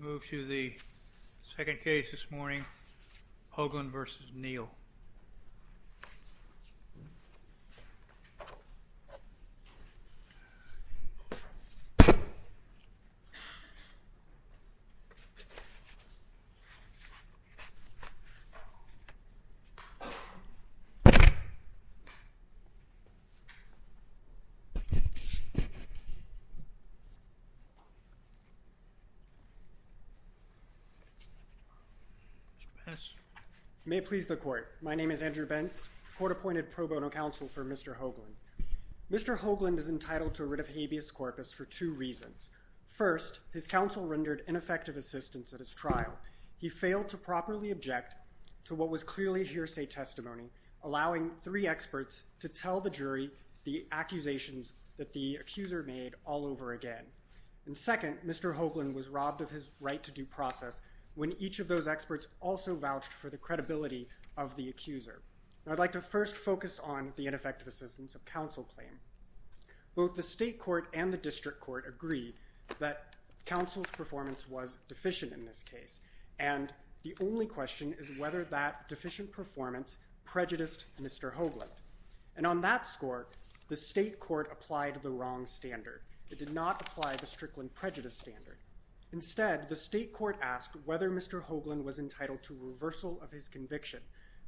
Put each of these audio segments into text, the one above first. Move to the second case this morning, Hoglund v. Neal. Mr. Bence. May it please the court. My name is Andrew Bence, court-appointed pro bono counsel for Mr. Hoglund. Mr. Hoglund is entitled to a writ of habeas corpus for two reasons. First, his counsel rendered ineffective assistance at his trial. He failed to properly object to what was clearly hearsay testimony, allowing three experts to tell the jury the accusations that the accuser made all over again. And second, Mr. Hoglund was robbed of his right to due process when each of those experts also vouched for the credibility of the accuser. Now I'd like to first focus on the ineffective assistance of counsel claim. Both the state court and the district court agreed that counsel's performance was deficient in this case, and the only question is whether that deficient performance prejudiced Mr. Hoglund. And on that score, the state court applied the wrong standard. It did not apply the Strickland prejudice standard. Instead, the state court asked whether Mr. Hoglund was entitled to reversal of his conviction.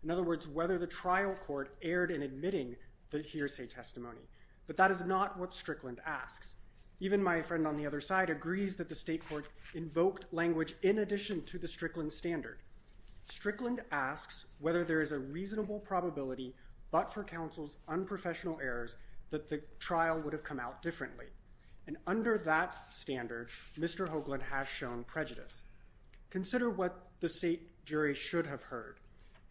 In other words, whether the trial court erred in admitting the hearsay testimony. But that is not what Strickland asks. Even my friend on the other side agrees that the state court invoked language in addition to the Strickland standard. Strickland asks whether there is a reasonable probability, but for counsel's unprofessional errors, that the trial would have come out differently. And under that standard, Mr. Hoglund has shown prejudice. Consider what the state jury should have heard.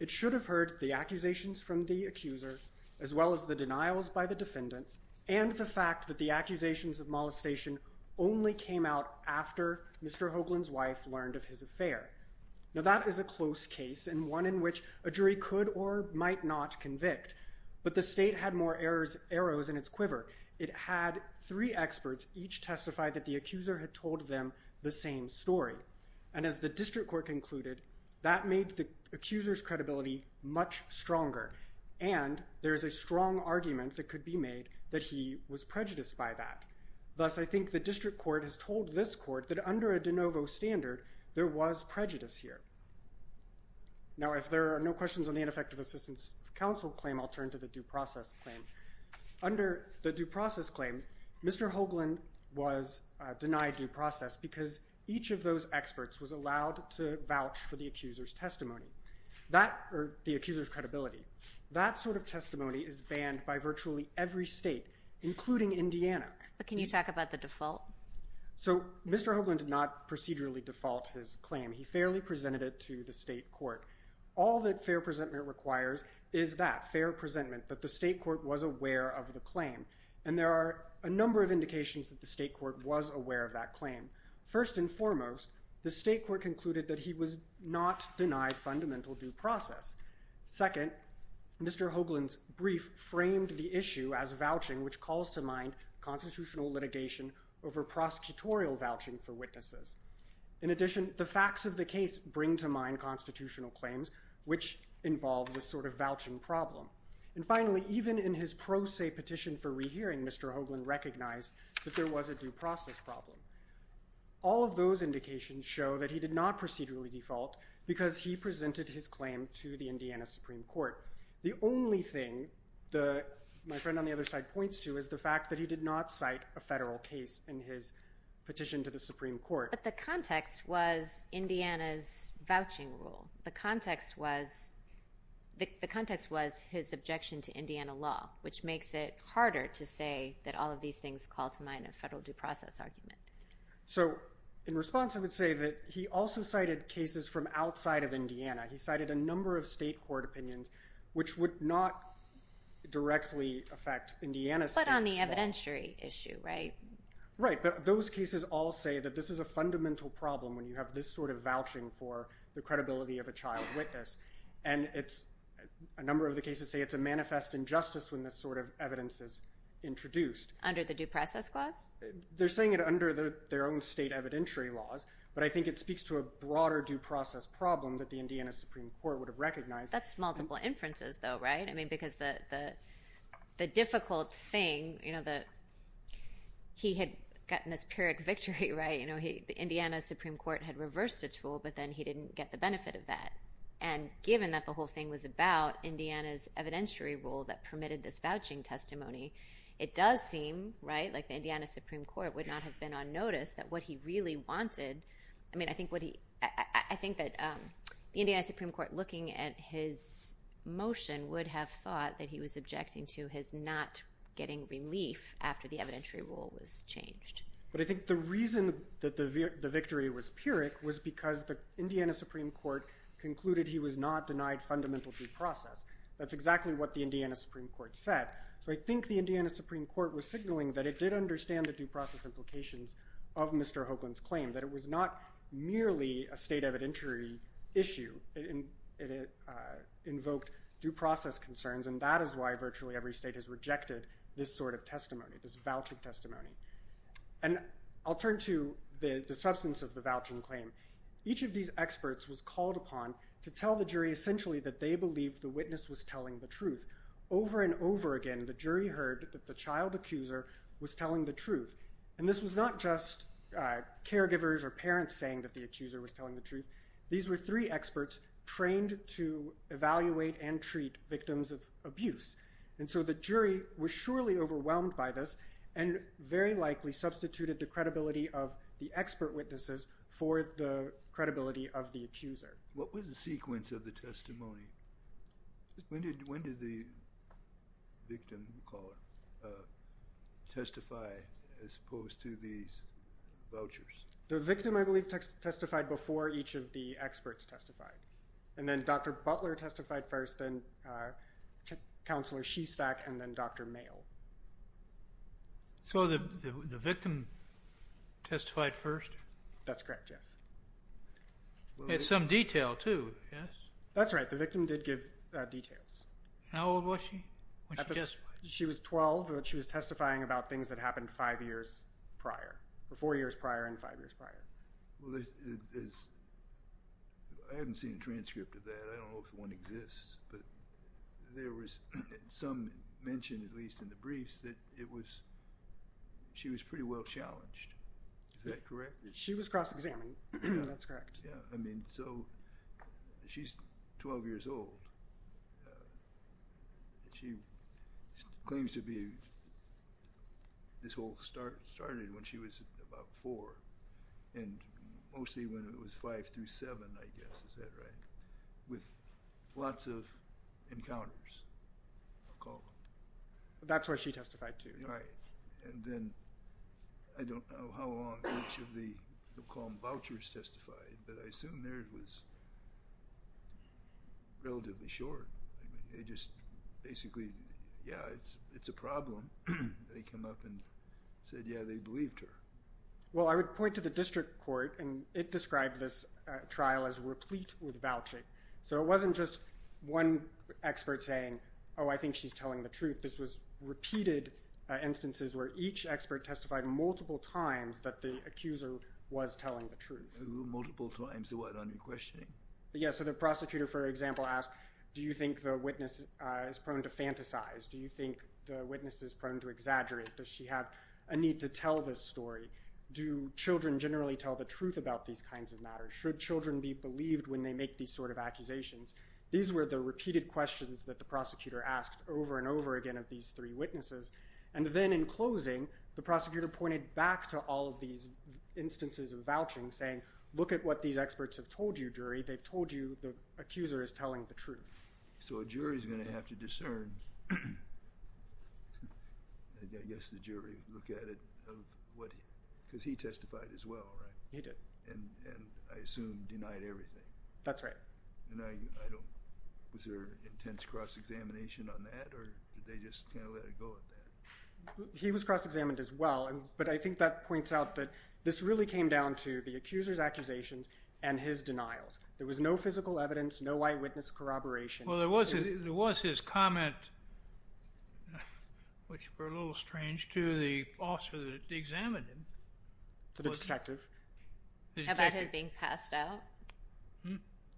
It should have heard the accusations from the accuser, as well as the denials by the defendant, and the fact that the accusations of molestation only came out after Mr. Hoglund's wife learned of his affair. Now that is a close case, and one in which a jury could or might not convict. But the state had more arrows in its quiver. It had three experts each testify that the accuser had told them the same story. And as the district court concluded, that made the accuser's credibility much stronger. And there is a strong argument that could be made that he was prejudiced by that. Thus, I think the district court has told this court that under a de novo standard, there was prejudice here. Now, if there are no questions on the ineffective assistance counsel claim, I'll turn to the due process claim. Under the due process claim, Mr. Hoglund was denied due process because each of those experts was allowed to vouch for the accuser's testimony or the accuser's credibility. That sort of testimony is banned by virtually every state, including Indiana. Can you talk about the default? So Mr. Hoglund did not procedurally default his claim. He fairly presented it to the state court. All that fair presentment requires is that, fair presentment, that the state court was aware of the claim. And there are a number of indications that the state court was aware of that claim. First and foremost, the state court concluded that he was not denied fundamental due process. Second, Mr. Hoglund's brief framed the issue as vouching, which calls to mind constitutional litigation over prosecutorial vouching for witnesses. In addition, the facts of the case bring to mind constitutional claims, which involve this sort of vouching problem. And finally, even in his pro se petition for rehearing, Mr. Hoglund recognized that there was a due process problem. All of those indications show that he did not procedurally default because he presented his claim to the Indiana Supreme Court. The only thing that my friend on the other side points to is the fact that he did not cite a federal case in his petition to the Supreme Court. But the context was Indiana's vouching rule. The context was his objection to Indiana law, which makes it harder to say that all of these things call to mind a federal due process argument. So in response, I would say that he also cited cases from outside of Indiana. He cited a number of other opinions, which would not directly affect Indiana's state law. But on the evidentiary issue, right? Right. But those cases all say that this is a fundamental problem when you have this sort of vouching for the credibility of a child witness. And a number of the cases say it's a manifest injustice when this sort of evidence is introduced. Under the due process clause? They're saying it under their own state evidentiary laws. But I think it speaks to a broader due process problem that the Indiana Supreme Court would have recognized. That's multiple inferences, though, right? I mean, because the difficult thing, you know, he had gotten this Pyrrhic victory, right? You know, the Indiana Supreme Court had reversed its rule, but then he didn't get the benefit of that. And given that the whole thing was about Indiana's evidentiary rule that permitted this vouching testimony, it does seem, right, like the Indiana Supreme Court would not have been on notice that what he really wanted I mean, I think that the Indiana Supreme Court, looking at his motion, would have thought that he was objecting to his not getting relief after the evidentiary rule was changed. But I think the reason that the victory was Pyrrhic was because the Indiana Supreme Court concluded he was not denied fundamental due process. That's exactly what the Indiana Supreme Court said. So I think the Indiana Supreme Court was signaling that it did understand the due process implications of Mr. Hoagland's claim, that it was not merely a state evidentiary issue. It invoked due process concerns, and that is why virtually every state has rejected this sort of testimony, this vouching testimony. And I'll turn to the substance of the vouching claim. Each of these experts was called upon to tell the jury essentially that they believed the witness was telling the truth. Over and over again, the jury heard that the child accuser was telling the truth. And this was not just caregivers or parents saying that the accuser was telling the truth. These were three experts trained to evaluate and treat victims of abuse. And so the jury was surely overwhelmed by this and very likely substituted the credibility of the expert witnesses for the credibility of the accuser. What was the sequence of the testimony? When did the victim testify as opposed to these vouchers? The victim, I believe, testified before each of the experts testified. And then Dr. Butler testified first, then Counselor Shestack, and then Dr. Mayo. So the victim testified first? That's correct, yes. It's some detail too, yes? That's right. The victim did give details. How old was she when she testified? She was 12 when she was testifying about things that happened five years prior, or four years prior and five years prior. I haven't seen a transcript of that. I don't know if one exists. But there was some mention, at least in the briefs, that she was pretty well challenged. Is that correct? She was cross-examined. That's correct. So she's 12 years old. She claims to be this whole started when she was about four, and mostly when it was five through seven, I guess. Is that right? With lots of encounters, I'll call them. That's where she testified to. Right. And then I don't know how long each of the, we'll call them vouchers, testified, but I assume theirs was relatively short. I mean, they just basically, yeah, it's a problem. They come up and said, yeah, they believed her. Well, I would point to the district court, and it described this trial as replete with vouching. So it wasn't just one expert saying, oh, I think she's telling the truth. This was repeated instances where each expert testified multiple times that the accuser was telling the truth. Multiple times, so why aren't you questioning? Yeah, so the prosecutor, for example, asked, do you think the witness is prone to fantasize? Do you think the witness is prone to exaggerate? Does she have a need to tell this story? Do children generally tell the truth about these kinds of matters? Should children be believed when they make these sort of accusations? These were the repeated questions that the prosecutor asked these three witnesses. And then, in closing, the prosecutor pointed back to all of these instances of vouching, saying, look at what these experts have told you, jury. They've told you the accuser is telling the truth. So a jury's going to have to discern, I guess the jury look at it, because he testified as well, right? He did. And I assume denied everything. That's right. And was there intense cross-examination on that, or did they just let it go at that? He was cross-examined as well, but I think that points out that this really came down to the accuser's accusations and his denials. There was no physical evidence, no eyewitness corroboration. Well, there was his comment, which were a little strange, to the officer that examined him. To the detective. How about his being passed out?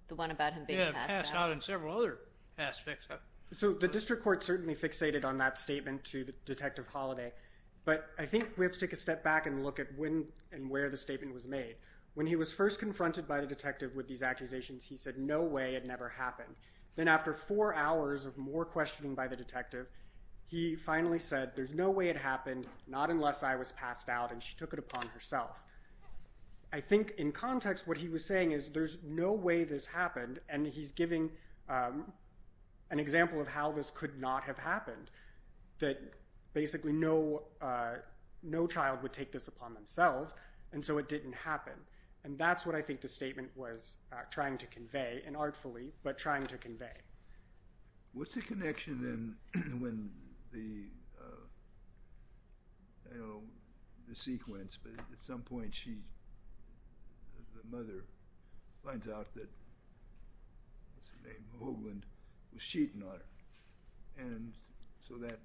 The one about him being passed out. Yeah, passed out in several other aspects. So the district court certainly fixated on that statement to Detective Holliday. But I think we have to take a step back and look at when and where the statement was made. When he was first confronted by the detective with these accusations, he said, no way, it never happened. Then after four hours of more questioning by the detective, he finally said, there's no way it happened, not unless I was passed out, and she took it upon herself. I think in context, what he was saying is, there's no way this happened. And he's giving an example of how this could not have happened, that basically no child would take this upon themselves, and so it didn't happen. And that's what I think the statement was trying to convey, and artfully, but trying to convey. What's the connection then when the sequence, but at some point she, the mother, finds out that, what's her name, Hoagland, was cheating on her. And so that,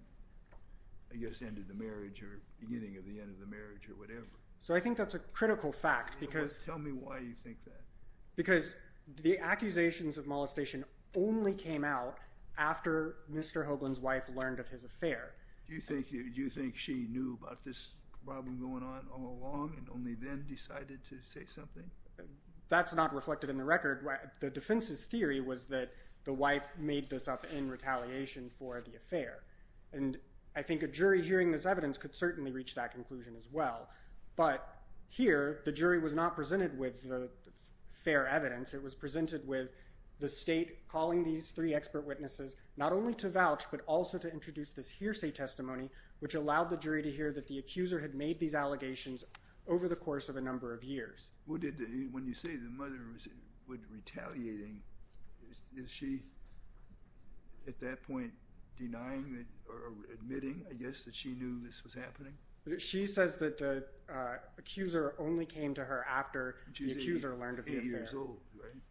I guess, ended the marriage or beginning of the end of the marriage or whatever. So I think that's a critical fact. Tell me why you think that. Because the accusations of molestation only came out after Mr. Hoagland's wife learned of his affair. Do you think she knew about this problem going on all along and only then decided to say something? That's not reflected in the record. The defense's theory was that the wife made this up in retaliation for the affair. And I think a jury hearing this evidence could certainly reach that conclusion as well. But here, the jury was not presented with fair evidence. It was presented with the state calling these three expert witnesses not only to vouch, but also to introduce this hearsay testimony, which allowed the jury to hear that the accuser had made these allegations over the course of a number of years. When you say the mother was retaliating, is she, at that point, denying or admitting, I guess, that she knew this was happening? She says that the accuser only came to her after the accuser learned of the affair. She was eight years old, right?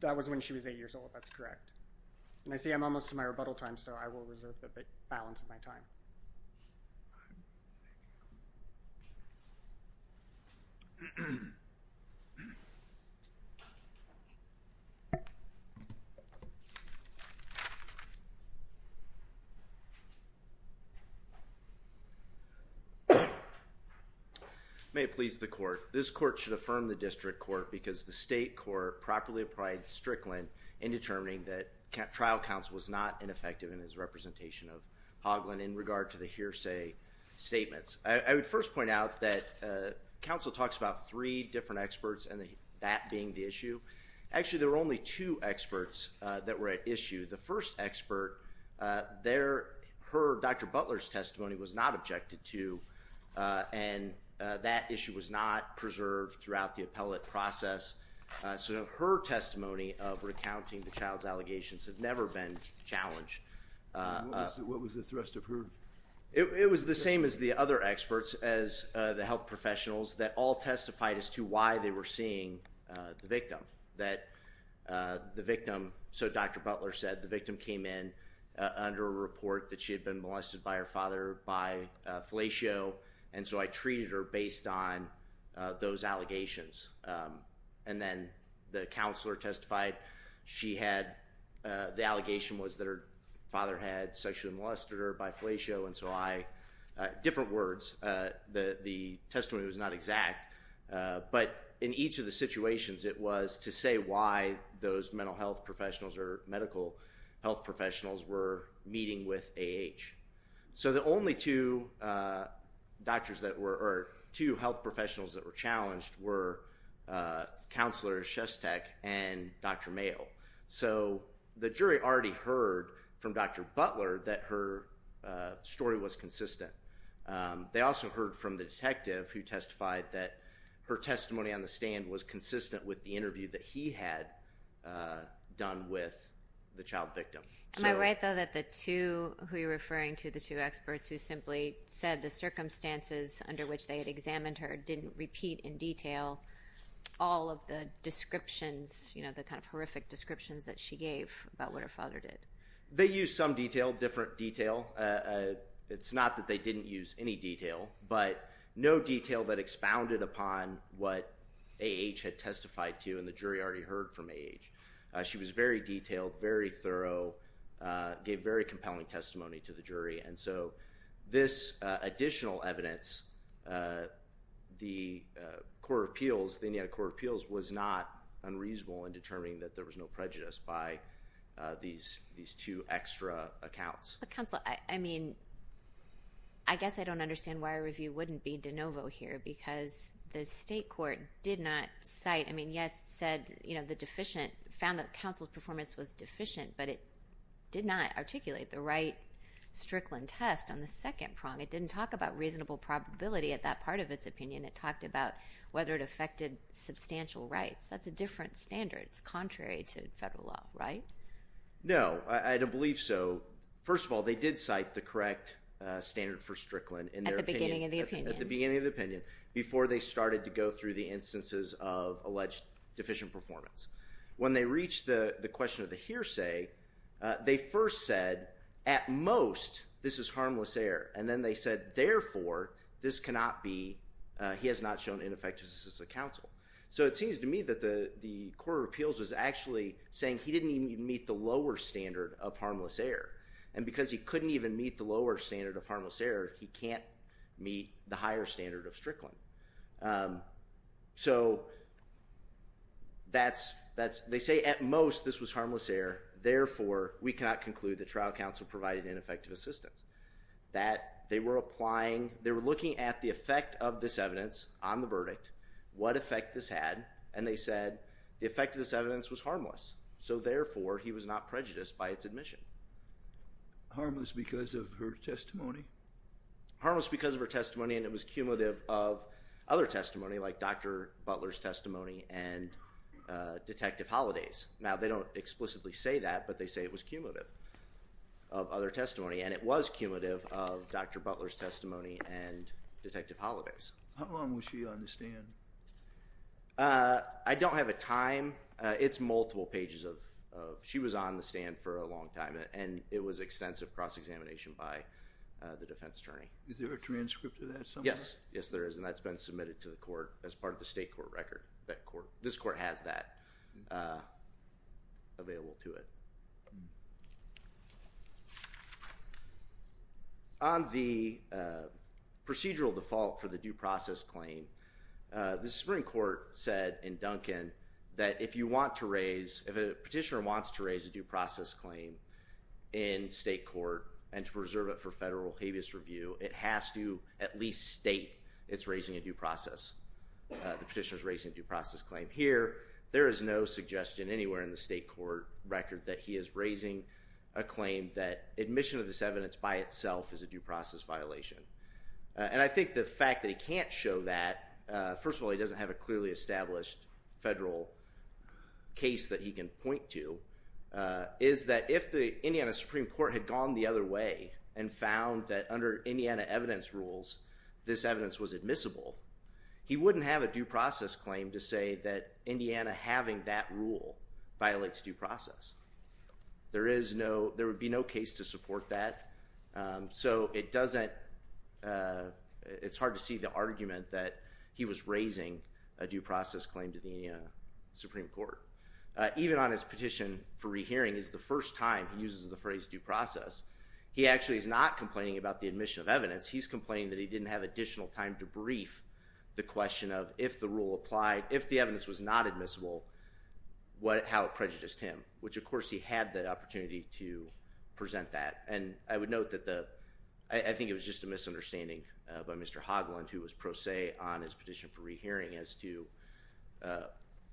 That was when she was eight years old. That's correct. And I see I'm almost to my rebuttal time, so I will reserve the balance of my time. May it please the court. This court should affirm the district court because the state court properly applied Strickland in determining that trial counsel was not ineffective in his representation of Hoagland in regard to the hearsay statements. I would first point out that counsel talks about three different experts and that being the issue. Actually, there were only two experts that were at issue. The first expert, her, Dr. Butler's testimony was not objected to and that issue was not preserved throughout the appellate process. So her testimony of recounting the child's allegations have never been challenged. What was the thrust of her? It was the same as the other experts, as the health professionals, that all testified as to why they were seeing the victim. That the victim, so Dr. Butler said, the victim came in under a report that she had been molested by her father by fellatio and so I treated her based on those allegations. And then the counselor testified she had, the allegation was that her father had sexually molested her by fellatio and so I, different words, the testimony was not exact, but in each of the situations it was to say why those mental health professionals or medical health professionals were meeting with A.H. So the only two doctors that were, or two health professionals that were challenged were Counselor Shestek and Dr. Mayo. So the jury already heard from Dr. Butler that her story was consistent. They also heard from the detective who testified that her testimony on the stand was consistent with the interview that he had done with the child victim. Am I right though that the two, who you're referring to, the two experts who simply said the circumstances under which they had examined her didn't repeat in detail all of the descriptions, you know, the kind of horrific descriptions that she gave about what her father did? They used some detail, different detail. It's not that they didn't use any detail, but no A.H. had testified to and the jury already heard from A.H. She was very detailed, very thorough, gave very compelling testimony to the jury and so this additional evidence, the court of appeals, the Indiana Court of Appeals was not unreasonable in determining that there was no prejudice by these two extra accounts. But Counselor, I mean, I guess I don't understand why a review wouldn't be de novo here because the state court did not cite, I mean, yes, said, you know, the deficient, found that Counsel's performance was deficient, but it did not articulate the right Strickland test on the second prong. It didn't talk about reasonable probability at that part of its opinion. It talked about whether it affected substantial rights. That's a different standard. It's contrary to federal law, right? No, I don't believe so. First of all, they did cite the correct standard for Strickland At the beginning of the opinion. At the beginning of the opinion before they started to go through the instances of alleged deficient performance. When they reached the question of the hearsay, they first said, at most, this is harmless error. And then they said, therefore, this cannot be, he has not shown ineffectiveness as a counsel. So it seems to me that the court of appeals was actually saying he didn't even meet the lower standard of harmless error. And because he couldn't even meet the lower standard of harmless error, he can't meet the higher standard of Strickland. So that's, they say, at most, this was harmless error. Therefore, we cannot conclude that trial counsel provided ineffective assistance. That they were applying, they were looking at the effect of this evidence on the verdict, what effect this had, and they said the effect of this evidence was harmless. So therefore, he was not prejudiced by its admission. Harmless because of her testimony? Harmless because of her testimony, and it was cumulative of other testimony, like Dr. Butler's testimony and Detective Holliday's. Now, they don't explicitly say that, but they say it was cumulative of other testimony. And it was cumulative of Dr. Butler's testimony and Detective Holliday's. How long was she on the stand? I don't have a time. It's multiple pages of, she was on the stand for a long time, and it was extensive cross-examination by the defense attorney. Is there a transcript of that somewhere? Yes, there is, and that's been submitted to the court as part of the state court record. This court has that available to it. On the procedural default for the due process claim, the Supreme Court said in Duncan that if you want to raise, if a petitioner wants to raise a due process claim in state court and to preserve it for federal habeas review, it has to at least state it's raising a due process, the petitioner's raising a due process claim. Here, there is no suggestion anywhere in the state court record that he is raising a claim that admission of this evidence by itself is a due process violation. And I think the fact that he can't show that, first of all, he doesn't have a clearly established federal case that he can point to, is that if the Indiana Supreme Court had gone the other way and found that under Indiana evidence rules, this evidence was admissible, he wouldn't have a due process claim to say that Indiana having that rule violates due process. There is no, there would be no case to support that, so it doesn't, it's hard to see the argument that he was raising a due process claim to the Supreme Court. Even on his petition for rehearing, it's the first time he uses the phrase due process. He actually is not complaining about the admission of evidence, he's complaining that he didn't have additional time to brief the question of if the rule applied, if the evidence was not admissible, how it prejudiced him, which of course he had the opportunity to present that. And I would note that the, I think it was just a misunderstanding by Mr. Hoglund, who was pro se on his petition for rehearing as to the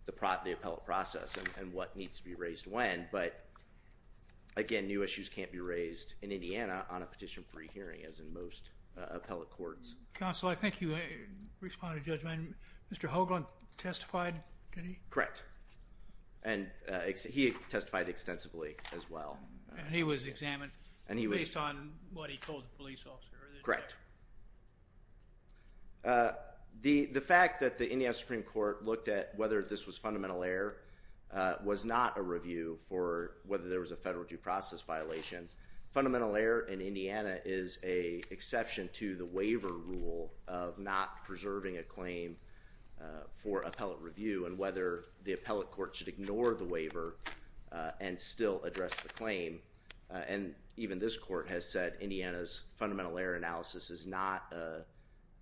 appellate process and what needs to be raised when, but again, new issues can't be raised in Indiana on a petition for rehearing as in most appellate courts. Counsel, I think you responded to judgment. Mr. Hoglund testified? Correct. And he testified extensively as well. And he was examined based on what he told the police officer? Correct. The fact that the Indiana Supreme Court looked at whether this was fundamental error was not a review for whether there was a federal due process violation. Fundamental error in Indiana is a exception to the waiver rule of not preserving a claim for appellate review and whether the appellate court should ignore the waiver and still address the claim. And even this court has said Indiana's fundamental error analysis is not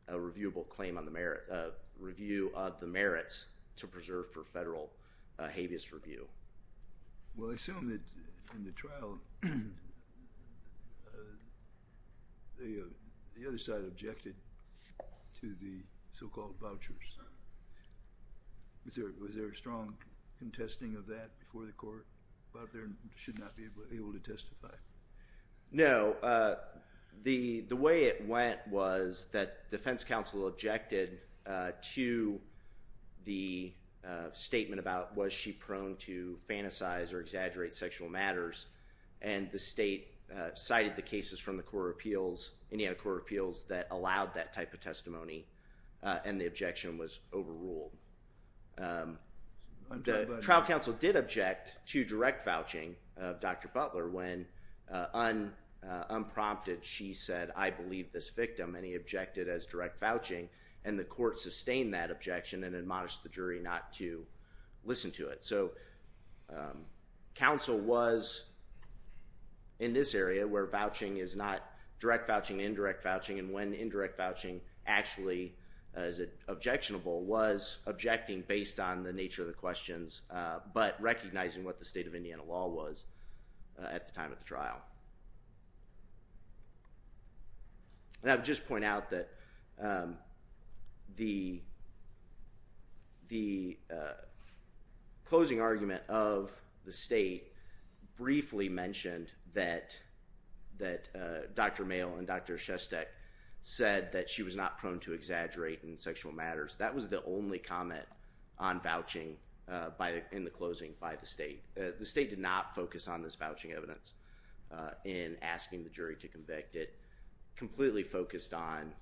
a reviewable claim on the merit, a review of the merits to preserve for federal habeas review. Well, I assume that in the trial, the other side objected to the so-called vouchers. Was there a strong contesting of that before the court about there should not be able to testify? No. The way it went was that defense counsel objected to the statement about was she prone to fantasize or exaggerate sexual matters. And the state cited the cases from the court appeals, Indiana court appeals, that allowed that type of testimony. And the objection was overruled. The trial counsel did object to direct vouching of Dr. Butler when unprompted she said, I believe this victim and he objected as direct vouching. And the court sustained that objection and admonished the jury not to listen to it. So counsel was in this area where vouching is not direct vouching, indirect vouching, and when indirect vouching actually is objectionable was objecting based on the nature of the questions, but recognizing what the state of Indiana law was at the time of the trial. And I would just point out that the closing argument of the state briefly mentioned that Dr. Mail and Dr. Shestek said that she was not prone to exaggerate in sexual matters. That was the only comment on vouching in the closing by the state. The state did not focus on this vouching evidence in asking the jury to convict. It completely focused on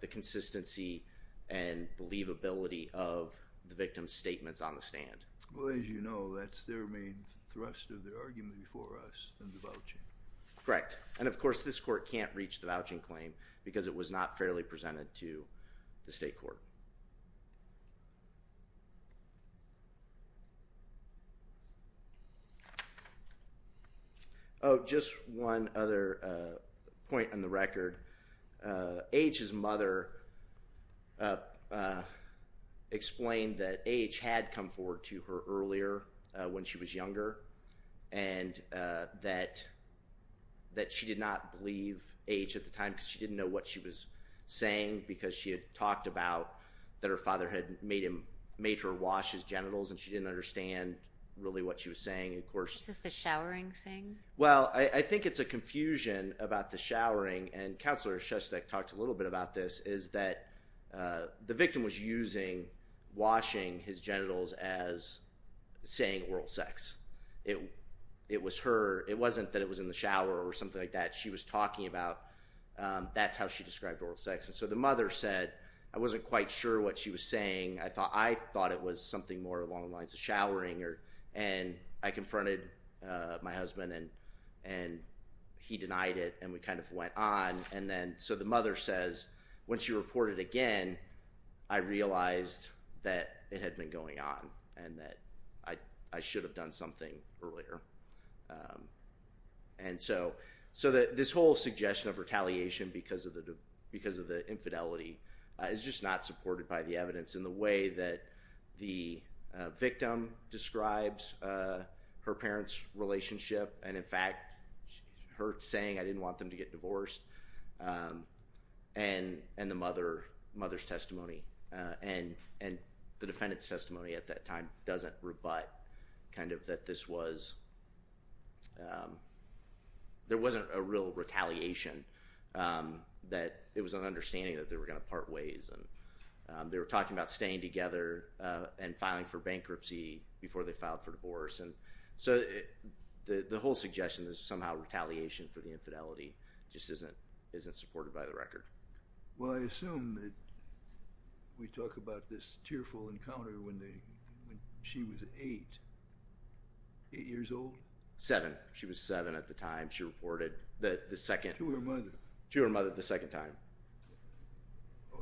the consistency and believability of the victim's statements on the stand. Well, as you know, that's their main thrust of their argument before us in the vouching. Correct. And of course, this court can't reach the vouching claim because it was not fairly presented to the state court. Oh, just one other point on the record. A.H.'s mother explained that A.H. had come forward to her earlier when she was younger and that she did not believe A.H. at the time because she didn't know what she was saying because she had talked about that her father had made her wash his genitals and she didn't understand really what she was saying. Is this the showering thing? Well, I think it's a confusion about the showering, and Counselor Shestek talked a little bit about this, is that the victim was using washing his genitals as saying oral sex. It wasn't that it was in the shower or something like that. She was talking about that's how she described oral sex. And so the mother said, I wasn't quite sure what she was saying. I thought it was something more along the lines of showering, and I confronted my husband, and he denied it, and we kind of went on. And then so the mother says, when she reported again, I realized that it had been going on and that I should have done something earlier. And so this whole suggestion of retaliation because of the infidelity is just not supported by the evidence in the way that the victim describes her parents' relationship, and in fact, her saying I didn't want them to get divorced, and the mother's testimony. And the defendant's testimony at that time doesn't rebut kind of that this was, there wasn't a real retaliation, that it was an understanding that they were going to part ways. And they were talking about staying together and filing for bankruptcy before they filed for divorce. And so the whole suggestion is somehow retaliation for the infidelity just isn't supported by the record. Well, I assume that we talk about this tearful encounter when she was eight, eight years old? Seven. She was seven at the time. She reported the second. To her mother. To her mother the second time.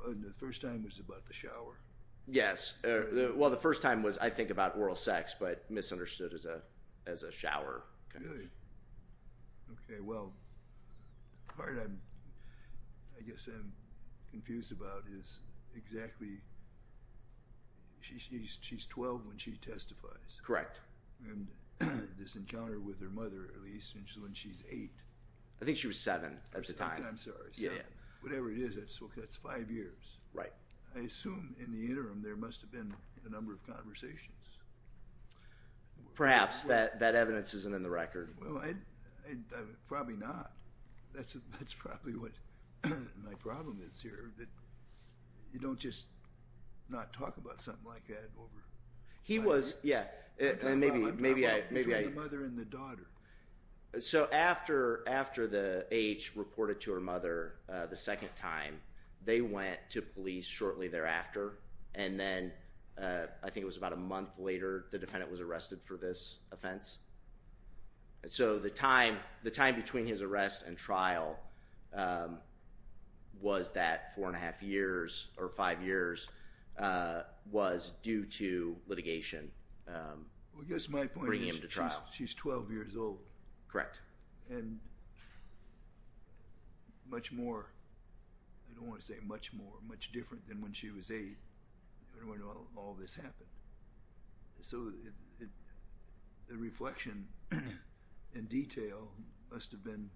And the first time was about the shower. Yes. Well, the first time was, I think, about oral sex, but misunderstood as a shower. Really? Okay, well, the part I guess I'm confused about is exactly, she's 12 when she testifies. Correct. And this encounter with her mother, at least, when she's eight. I think she was seven at the time. I'm sorry, seven. Whatever it is, that's five years. Right. I assume in the interim there must have been a number of conversations. Perhaps. That evidence isn't in the record. Well, probably not. That's probably what my problem is here, that you don't just not talk about something like that. He was, yeah. Between the mother and the daughter. So after the A.H. reported to her mother the second time, they went to police shortly thereafter. And then, I think it was about a month later, the defendant was arrested for this offense. So the time between his arrest and trial was that four and a half years, or five years, was due to litigation. I guess my point is, she's 12 years old. Correct. And much more, I don't want to say much more, much different than when she was eight, when all this happened. So the reflection in detail must have been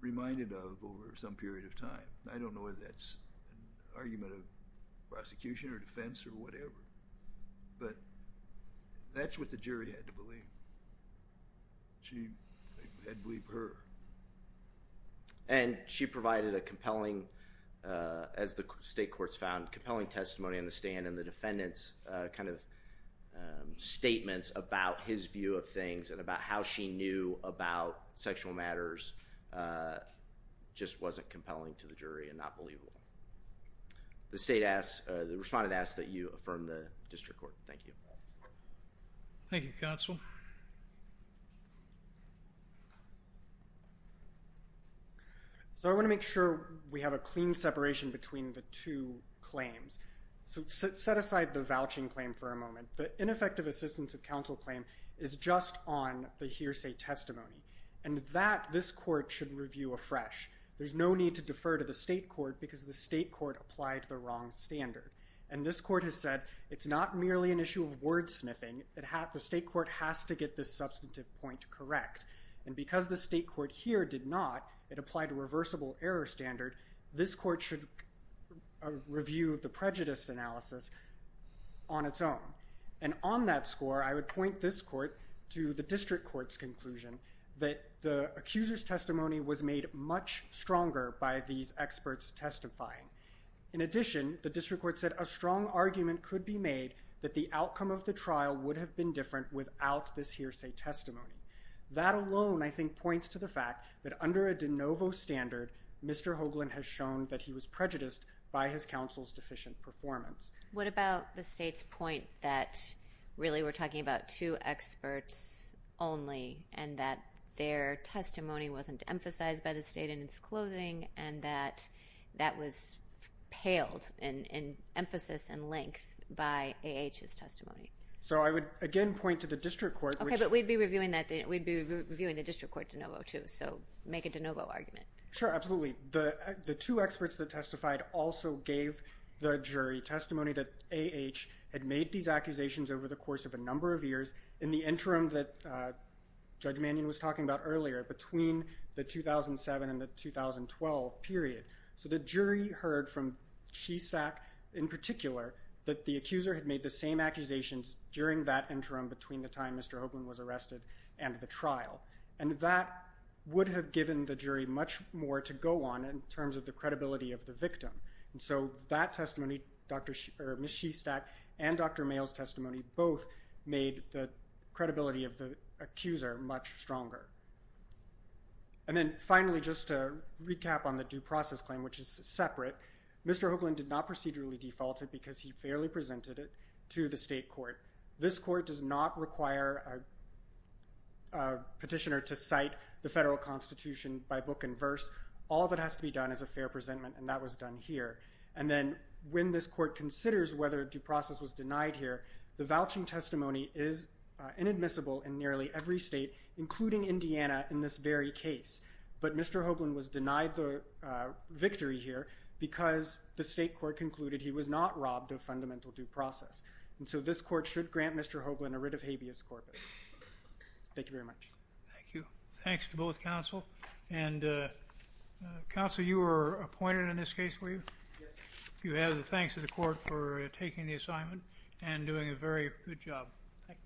reminded of over some period of time. I don't know whether that's an argument of prosecution or defense or whatever. But that's what the jury had to believe. She had to believe her. And she provided a compelling, as the state courts found, compelling testimony in the stand. And the defendant's kind of statements about his view of things and about how she knew about sexual matters just wasn't compelling to the jury and not believable. The state asked, the respondent asked that you affirm the district court. Thank you. Thank you, counsel. So I want to make sure we have a clean separation between the two claims. So set aside the vouching claim for a moment. The ineffective assistance of counsel claim is just on the hearsay testimony. And that, this court should review afresh. There's no need to defer to the state court because the state court applied the wrong standard. And this court has said it's not merely an issue of wordsmithing. The state court has to get this substantive point correct. And because the state court here did not, it applied a reversible error standard. This court should review the prejudice analysis on its own. And on that score, I would point this court to the district court's conclusion that the accuser's testimony was made much stronger by these experts testifying. In addition, the district court said a strong argument could be made that the outcome of the trial would have been different without this hearsay testimony. That alone, I think, points to the fact that under a de novo standard, Mr. Hoagland has shown that he was prejudiced by his counsel's deficient performance. What about the state's point that really we're talking about two experts only and that their testimony wasn't emphasized by the state in its closing and that that was paled in emphasis and length by AAH's testimony? So I would again point to the district court. Okay, but we'd be reviewing the district court de novo too. So make a de novo argument. Sure, absolutely. The two experts that testified also gave the jury testimony that AAH had made these accusations over the course of a number of years in the interim that Judge Mannion was talking about earlier, between the 2007 and the 2012 period. So the jury heard from Shestack, in particular, that the accuser had made the same accusations during that interim between the time Mr. Hoagland was arrested and the trial. And that would have given the jury much more to go on in terms of the credibility of the victim. And so that testimony, Ms. Shestack and Dr. Mayles' testimony, both made the credibility of the accuser much stronger. And then finally, just to recap on the due process claim, which is separate, Mr. Hoagland did not procedurally default because he fairly presented it to the state court. This court does not require a petitioner to cite the federal constitution by book and verse. All that has to be done is a fair presentment, and that was done here. And then when this court considers whether due process was denied here, the vouching testimony is inadmissible in nearly every state, including Indiana, in this very case. But Mr. Hoagland was denied the victory here because the state court concluded he was not robbed of fundamental due process. And so this court should grant Mr. Hoagland a writ of habeas corpus. Thank you very much. Thank you. Thanks to both counsel. And counsel, you were appointed in this case, were you? Yes. You have the thanks of the court for taking the assignment and doing a very good job. Thank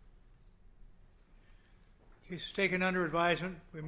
you. Case is taken under advisement.